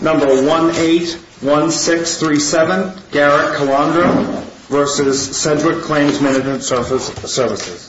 Number 181637 Garrett Calandro v. Sedgwick Claims Mgmt. Services.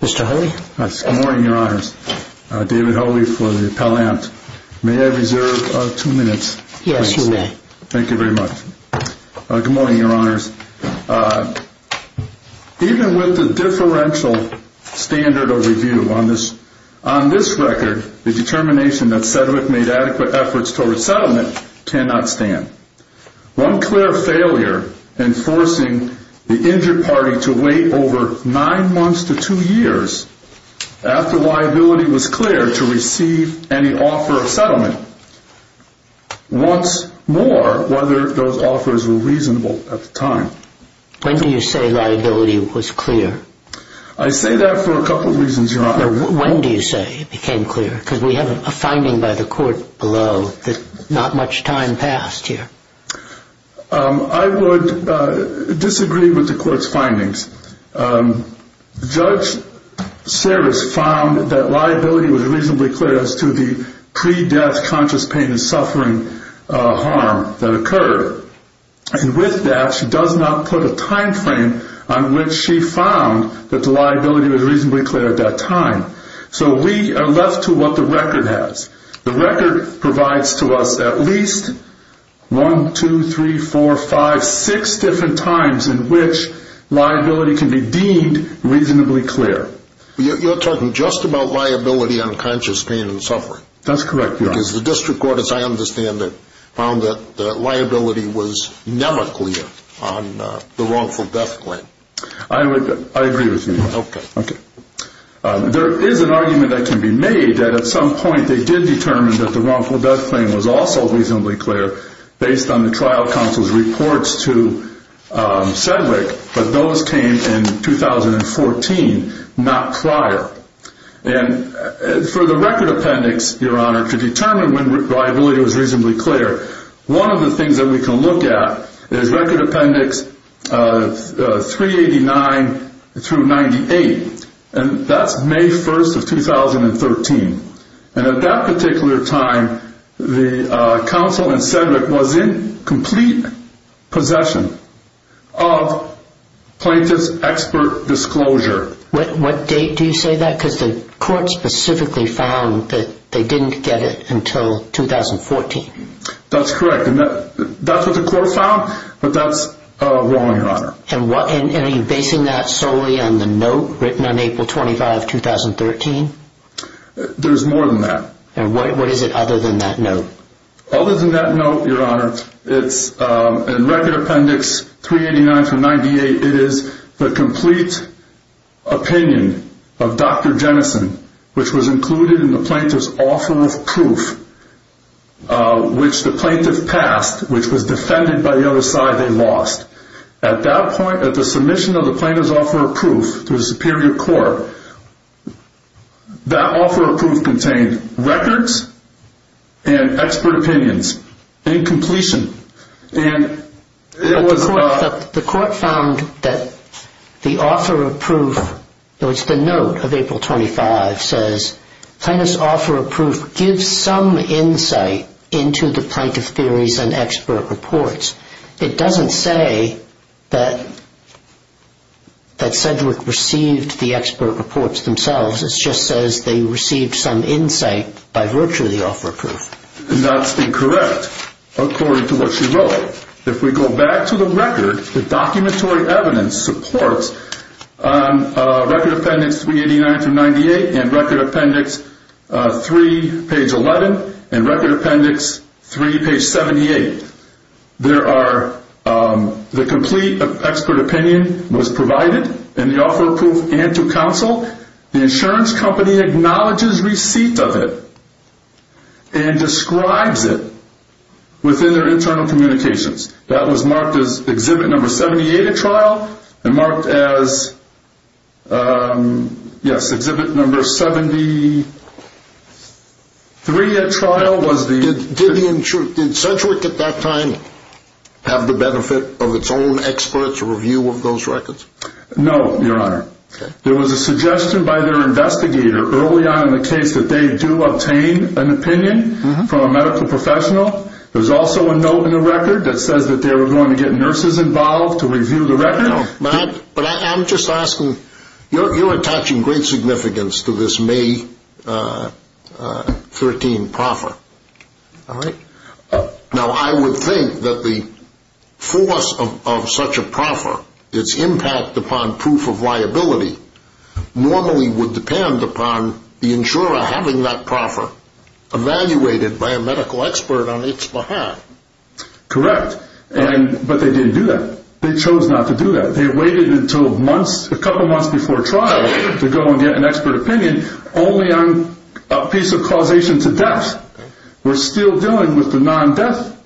Mr. Hulley? Good morning, your honors. David Hulley for the Appellant. May I reserve two minutes? Yes, you may. Thank you very much. Good morning, your honors. Even with the differential standard of review on this record, the determination that Sedgwick made adequate efforts toward settlement cannot stand. One clear failure in forcing the injured party to wait over nine months to two years after liability was clear to receive any offer of settlement wants more whether those offers were reasonable at the time. When do you say liability was clear? I say that for a couple of reasons, your honors. When do you say it became clear? Because we have a finding by the court below that not much time passed here. I would disagree with the court's findings. Judge Sarris found that liability was reasonably clear as to the pre-death conscious pain and suffering harm that occurred. And with that, she does not put a time frame on which she found that the liability was reasonably clear at that time. So we are left to what the record has. The record provides to us at least one, two, three, four, five, six different times in which liability can be deemed reasonably clear. You're talking just about liability on conscious pain and suffering? That's correct, your honors. Because the district court, as I understand it, found that liability was never clear on the wrongful death claim. I agree with you. Okay. There is an argument that can be made that at some point they did determine that the wrongful death claim was also reasonably clear based on the trial counsel's reports to Sedgwick, but those came in 2014, not prior. And for the record appendix, your honor, to determine when liability was reasonably clear, one of the things that we can look at is record appendix 389 through 98, and that's May 1st of 2013. And at that particular time, the counsel in Sedgwick was in complete possession of plaintiff's expert disclosure. What date do you say that? Because the court specifically found that they didn't get it until 2014. That's correct. And that's what the court found, but that's wrong, your honor. And are you basing that solely on the note written on April 25, 2013? There's more than that. And what is it other than that note? Other than the record appendix 389 through 98, it is the complete opinion of Dr. Jennison, which was included in the plaintiff's offer of proof, which the plaintiff passed, which was defended by the other side they lost. At that point, at the submission of the plaintiff's offer of proof to the superior court, that offer of proof contained records and expert opinions and completion. But the court found that the offer of proof, it was the note of April 25, says plaintiff's offer of proof gives some insight into the plaintiff's theories and expert reports. It doesn't say that Sedgwick received the expert reports themselves, it just says they received some insight by virtue of the offer of proof. And that's incorrect according to what she wrote. If we go back to the record, the documentary evidence supports record appendix 389 through 98 and record appendix 3, page 11 and record appendix 3, page 78. There are, the complete expert opinion was provided in the offer of proof and to which the company acknowledges receipt of it and describes it within their internal communications. That was marked as exhibit number 78 at trial and marked as, yes, exhibit number 73 at trial was the... Did Sedgwick at that time have the benefit of its own experts review of those records? No, your honor. There was a suggestion by their investigator early on in the case that they do obtain an opinion from a medical professional. There's also a note in the record that says that they were going to get nurses involved to review the record. No, but I'm just asking, you're attaching great significance to this May 13 proffer. All right. Now, I would think that the force of such a proffer, its impact upon proof of liability, normally would depend upon the insurer having that proffer evaluated by a medical expert on its behalf. Correct. But they didn't do that. They chose not to do that. They waited until months, a couple months before trial to go and get an expert opinion only on a piece of causation to death. We're still dealing with the non-death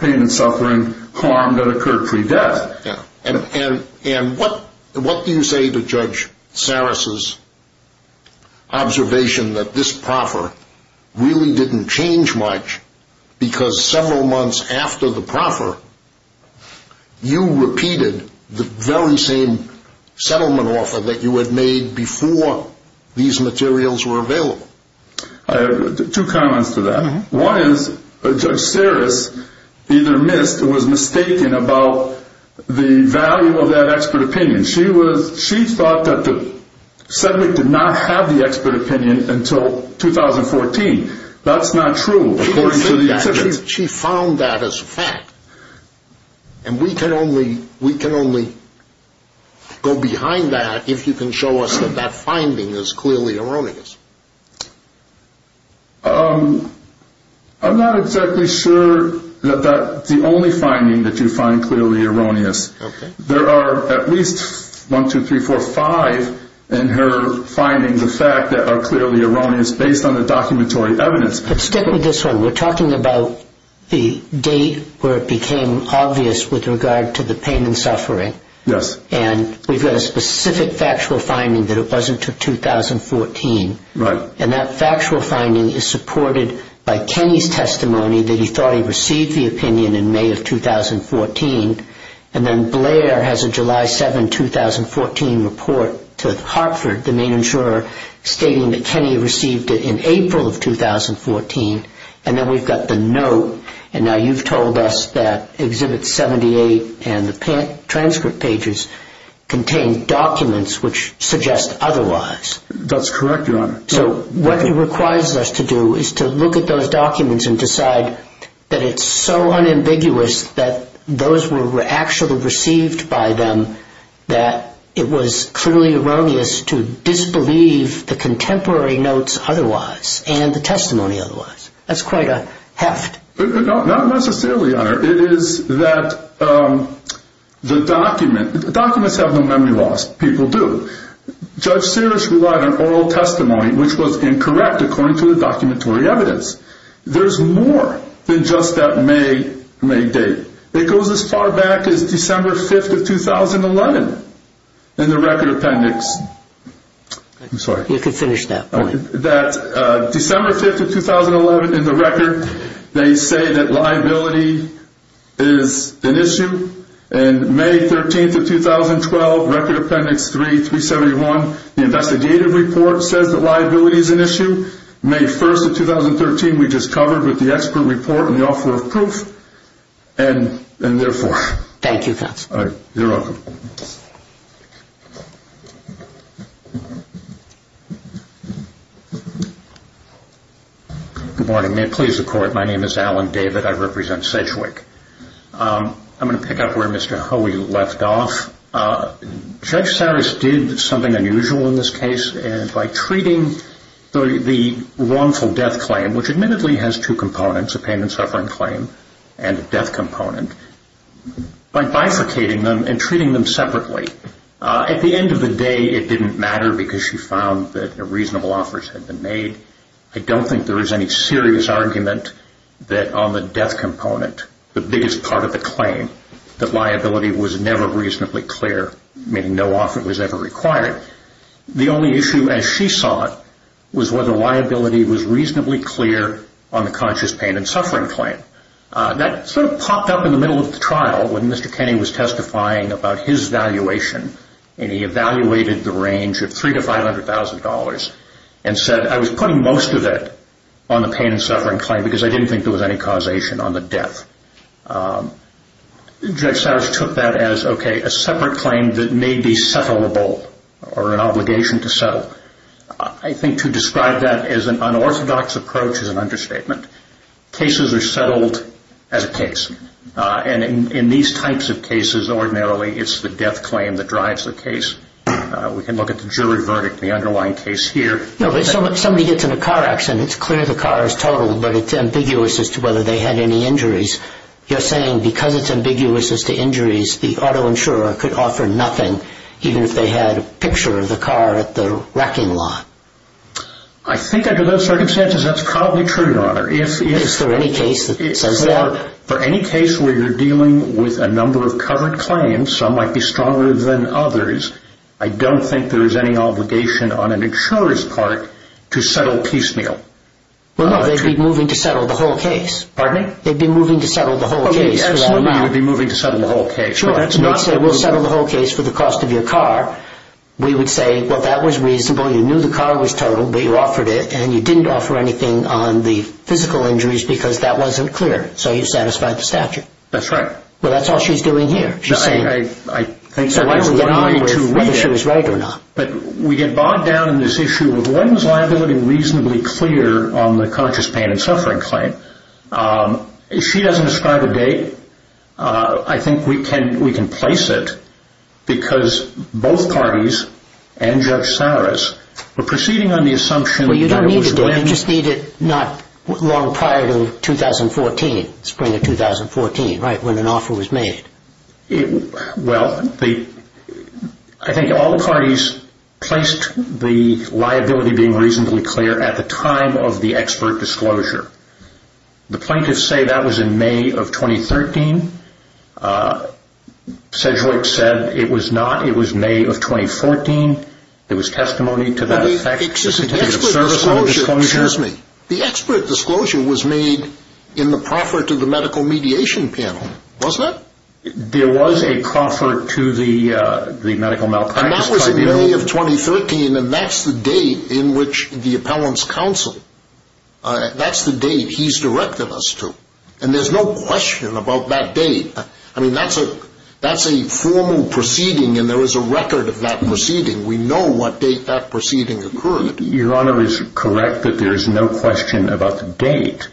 pain and suffering, harm that occurred pre-death. And what do you say to Judge Saris' observation that this proffer really didn't change much because several months after the proffer, you repeated the very same settlement offer that you had made before these materials were available? I have two comments to that. One is Judge Saris either missed or was mistaken about the value of that expert opinion. She thought that the subject did not have the expert opinion until 2014. That's not true. She found that as a fact. And we can only go behind that if you can show us that that finding is clearly erroneous. I'm not exactly sure that that's the only finding that you find clearly erroneous. There are at least one, two, three, four, five in her findings of fact that are clearly erroneous based on the documentary evidence. But stick with this one. We're talking about the date where it became obvious with regard to the And that factual finding is supported by Kenny's testimony that he thought he received the opinion in May of 2014. And then Blair has a July 7, 2014 report to Hartford, the main insurer, stating that Kenny received it in April of 2014. And then we've got the note. And now you've told us that Exhibit 78 and the transcript pages contain documents which suggest otherwise. That's correct, Your Honor. So what it requires us to do is to look at those documents and decide that it's so unambiguous that those were actually received by them that it was clearly erroneous to disbelieve the contemporary notes otherwise and the testimony otherwise. That's quite a heft. Not necessarily, Your Honor. It is that the document, documents have no memory loss. People do. Judge Sears relied on oral testimony which was incorrect according to the documentary evidence. There's more than just that May date. It goes as far back as December 5, 2011 in the record appendix. I'm sorry. You can finish that point. December 5, 2011 in the record, they say that liability is an issue. And May 13, 2012, Record Appendix 3, 371, the investigative report says that liability is an issue. May 1, 2013, we just covered with the expert report and the offer of proof. And therefore... Thank you, counsel. You're welcome. Good morning. May it please the Court. My name is Alan David. I represent Sedgwick. I'm going to pick up where Mr. Hoey left off. Judge Sears did something unusual in this case by treating the wrongful death claim, which admittedly has two components, a pain and suffering claim and a death component, by bifurcating them and treating them separately. At the end of the day, it didn't matter because she found that reasonable offers had been made. I don't think there is any serious argument that on the death component, the biggest part of the claim, that liability was never reasonably clear, meaning no offer was ever required. The only issue, as she saw it, was whether liability was reasonably clear on the conscious pain and suffering claim. That sort of popped up in the middle of the trial when Mr. Kenney was testifying about his valuation and he evaluated the range of $300,000 to $500,000 and said, I was putting most of it on the pain and suffering claim because I didn't think there was any causation on the death. Judge Sears took that as, okay, a separate claim that may be settlable or an obligation to settle. I think to describe that as an unorthodox approach is an understatement. Cases are settled as a case. In these types of cases, ordinarily, it's the death claim that drives the case. We can look at the jury verdict, the underlying case here. Somebody gets in a car accident. It's clear the car is totaled, but it's ambiguous as to whether they had any injuries. You're saying because it's ambiguous as to injuries, the auto insurer could offer nothing, even if they had a picture of the car at the wrecking lot. I think under those circumstances, that's probably true, Your Honor. Is there any case that says that? For any case where you're dealing with a number of covered claims, some might be stronger than others, I don't think there is any obligation on an insurer's part to settle piecemeal. Well, no, they'd be moving to settle the whole case. Pardon me? They'd be moving to settle the whole case for that amount. Okay, absolutely, you'd be moving to settle the whole case. Sure, that's not moving. They'd say, we'll settle the whole case for the cost of your car. We would say, well, that was reasonable. You knew the car was totaled, but you offered it, and you didn't offer anything on the physical injuries because that wasn't clear, so you satisfied the statute. That's right. Well, that's all she's doing here. She's saying whether she was right or not. We get bogged down in this issue of when was liability reasonably clear on the conscious pain and suffering claim. She doesn't describe a date. I think we can place it because both parties and Judge Saras were proceeding on the assumption that it was when… Well, you don't need a date. You just need it not long prior to 2014, spring of 2014, right, when an offer was made. Well, I think all the parties placed the liability being reasonably clear at the time of the expert disclosure. The plaintiffs say that was in May of 2013. Sedgwick said it was not. It was May of 2014. There was testimony to that effect. Excuse me, the expert disclosure was made in the proffer to the medical mediation panel, wasn't it? There was a proffer to the medical malpractice tribunal. And that was in May of 2013, and that's the date in which the appellants counseled. That's the date he's directed us to, and there's no question about that date. I mean, that's a formal proceeding, and there is a record of that proceeding. We know what date that proceeding occurred. Your Honor is correct that there is no question about the date,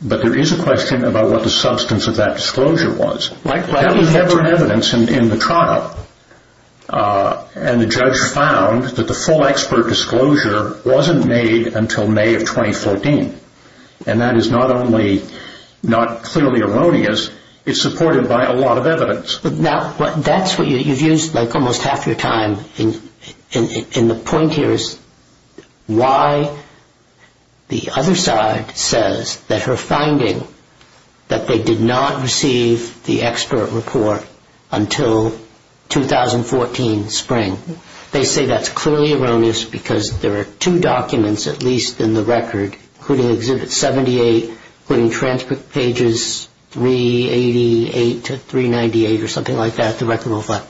but there is a question about what the substance of that disclosure was. That was ever in evidence in the trial, and the judge found that the full expert disclosure wasn't made until May of 2014. And that is not only not clearly erroneous, it's supported by a lot of evidence. Now, that's what you've used like almost half your time, and the point here is why the other side says that her finding, that they did not receive the expert report until 2014 spring. They say that's clearly erroneous because there are two documents, at least in the record, including Exhibit 78, including transcript pages 388 to 398 or something like that, the record will reflect,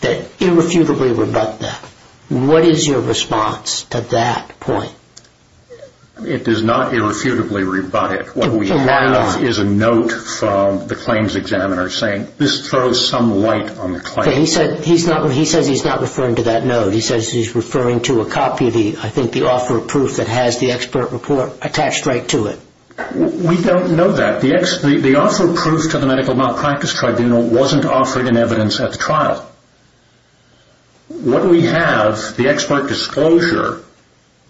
that irrefutably rebut that. What is your response to that point? It does not irrefutably rebut it. What we have is a note from the claims examiner saying this throws some light on the claim. He says he's not referring to that note. He says he's referring to a copy of the, I think, the offer of proof that has the expert report attached right to it. We don't know that. The offer of proof to the Medical Malpractice Tribunal wasn't offered in evidence at the trial. What we have, the expert disclosure,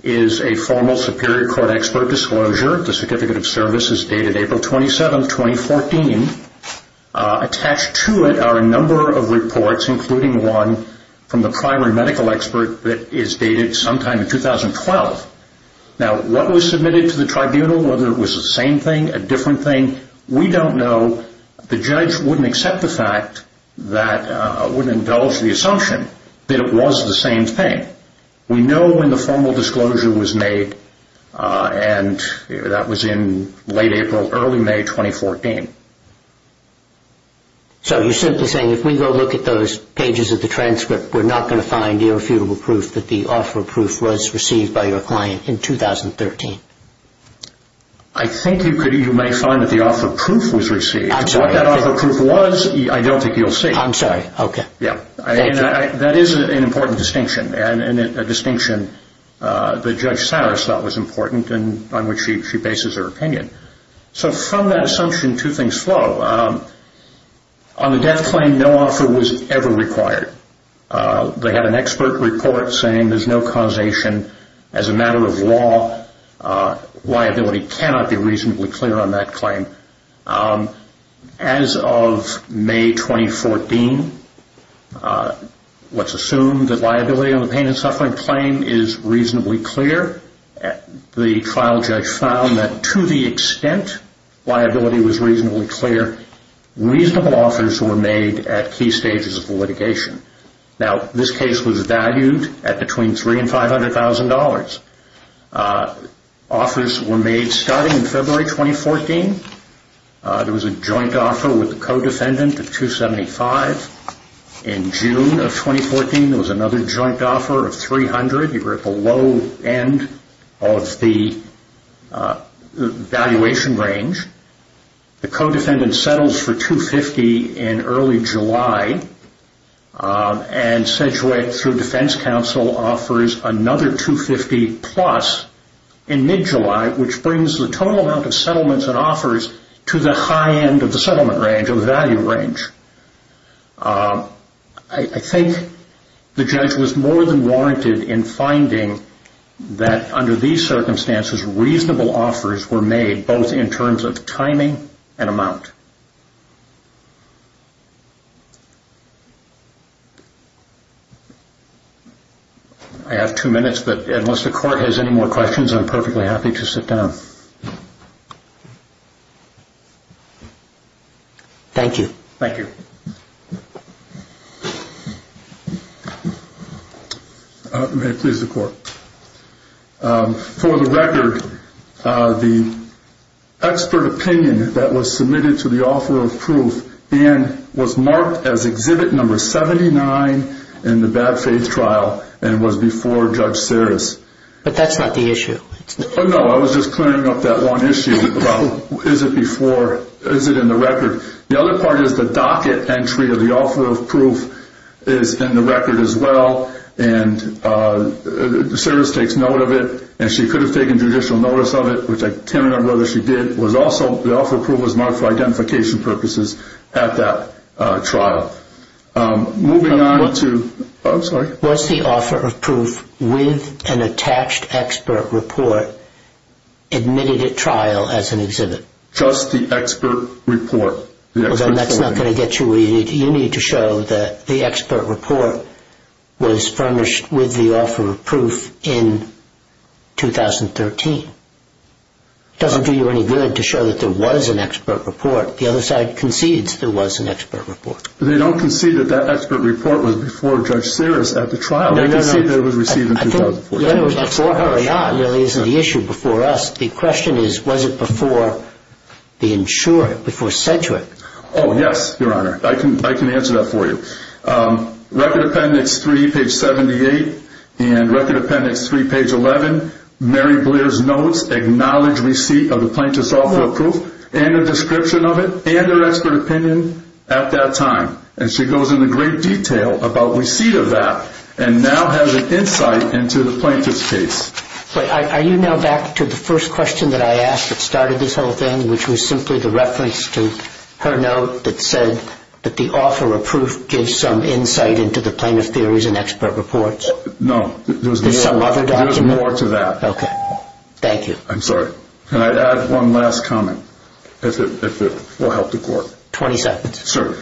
is a formal Superior Court expert disclosure. The certificate of service is dated April 27, 2014. Attached to it are a number of reports, including one from the primary medical expert that is dated sometime in 2012. Now, what was submitted to the tribunal, whether it was the same thing, a different thing, we don't know. The judge wouldn't accept the fact that, wouldn't indulge the assumption that it was the same thing. We know when the formal disclosure was made, and that was in late April, early May 2014. So you're simply saying if we go look at those pages of the transcript, we're not going to find irrefutable proof that the offer of proof was received by your client in 2013? I think you may find that the offer of proof was received. I'm sorry. What that offer of proof was, I don't think you'll see. I'm sorry. Okay. That is an important distinction, and a distinction that Judge Saris thought was important and on which she bases her opinion. So from that assumption, two things flow. On the death claim, no offer was ever required. They had an expert report saying there's no causation. As a matter of law, liability cannot be reasonably clear on that claim. As of May 2014, let's assume that liability on the pain and suffering claim is reasonably clear. The trial judge found that to the extent liability was reasonably clear, reasonable offers were made at key stages of the litigation. Now, this case was valued at between $300,000 and $500,000. Offers were made starting in February 2014. There was a joint offer with the co-defendant of $275,000. In June of 2014, there was another joint offer of $300,000. You were at the low end of the valuation range. The co-defendant settles for $250,000 in early July, and Sedgwick, through defense counsel, offers another $250,000 plus in mid-July, which brings the total amount of settlements and offers to the high end of the settlement range or value range. I think the judge was more than warranted in finding that under these circumstances, reasonable offers were made, both in terms of timing and amount. I have two minutes, but unless the Court has any more questions, I'm perfectly happy to sit down. Thank you. Thank you. May it please the Court. For the record, the expert opinion that was submitted to the offer of proof was marked as Exhibit No. 79 in the bad faith trial and was before Judge Sarris. But that's not the issue. No, I was just clearing up that one issue about is it in the record. The other part is the docket entry of the offer of proof is in the record as well, and Sarris takes note of it, and she could have taken judicial notice of it, which I can't remember whether she did. Also, the offer of proof was marked for identification purposes at that trial. Was the offer of proof with an attached expert report admitted at trial as an exhibit? Just the expert report. Well, then that's not going to get you what you need. You need to show that the expert report was furnished with the offer of proof in 2013. It doesn't do you any good to show that there was an expert report. The other side concedes there was an expert report. They don't concede that that expert report was before Judge Sarris at the trial. They concede that it was received in 2014. Before her or not really is the issue. The question is was it before the insurer, before Sedgwick? Oh, yes, Your Honor. I can answer that for you. Record Appendix 3, page 78, and Record Appendix 3, page 11, Mary Blair's notes acknowledge receipt of the plaintiff's offer of proof and a description of it and her expert opinion at that time. And she goes into great detail about receipt of that and now has an insight into the plaintiff's case. Are you now back to the first question that I asked that started this whole thing, which was simply the reference to her note that said that the offer of proof gives some insight into the plaintiff's theories and expert reports? No. There's some other document? There's more to that. Okay. Thank you. I'm sorry. Can I add one last comment if it will help the Court? 20 seconds. Sir.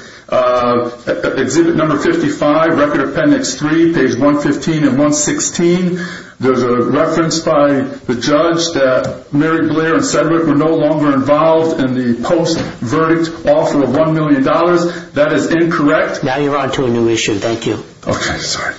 Exhibit number 55, Record Appendix 3, page 115 and 116, there's a reference by the judge that Mary Blair and Sedgwick were no longer involved in the post-verdict offer of $1 million. That is incorrect. Now you're on to a new issue. Thank you. Okay. Sorry.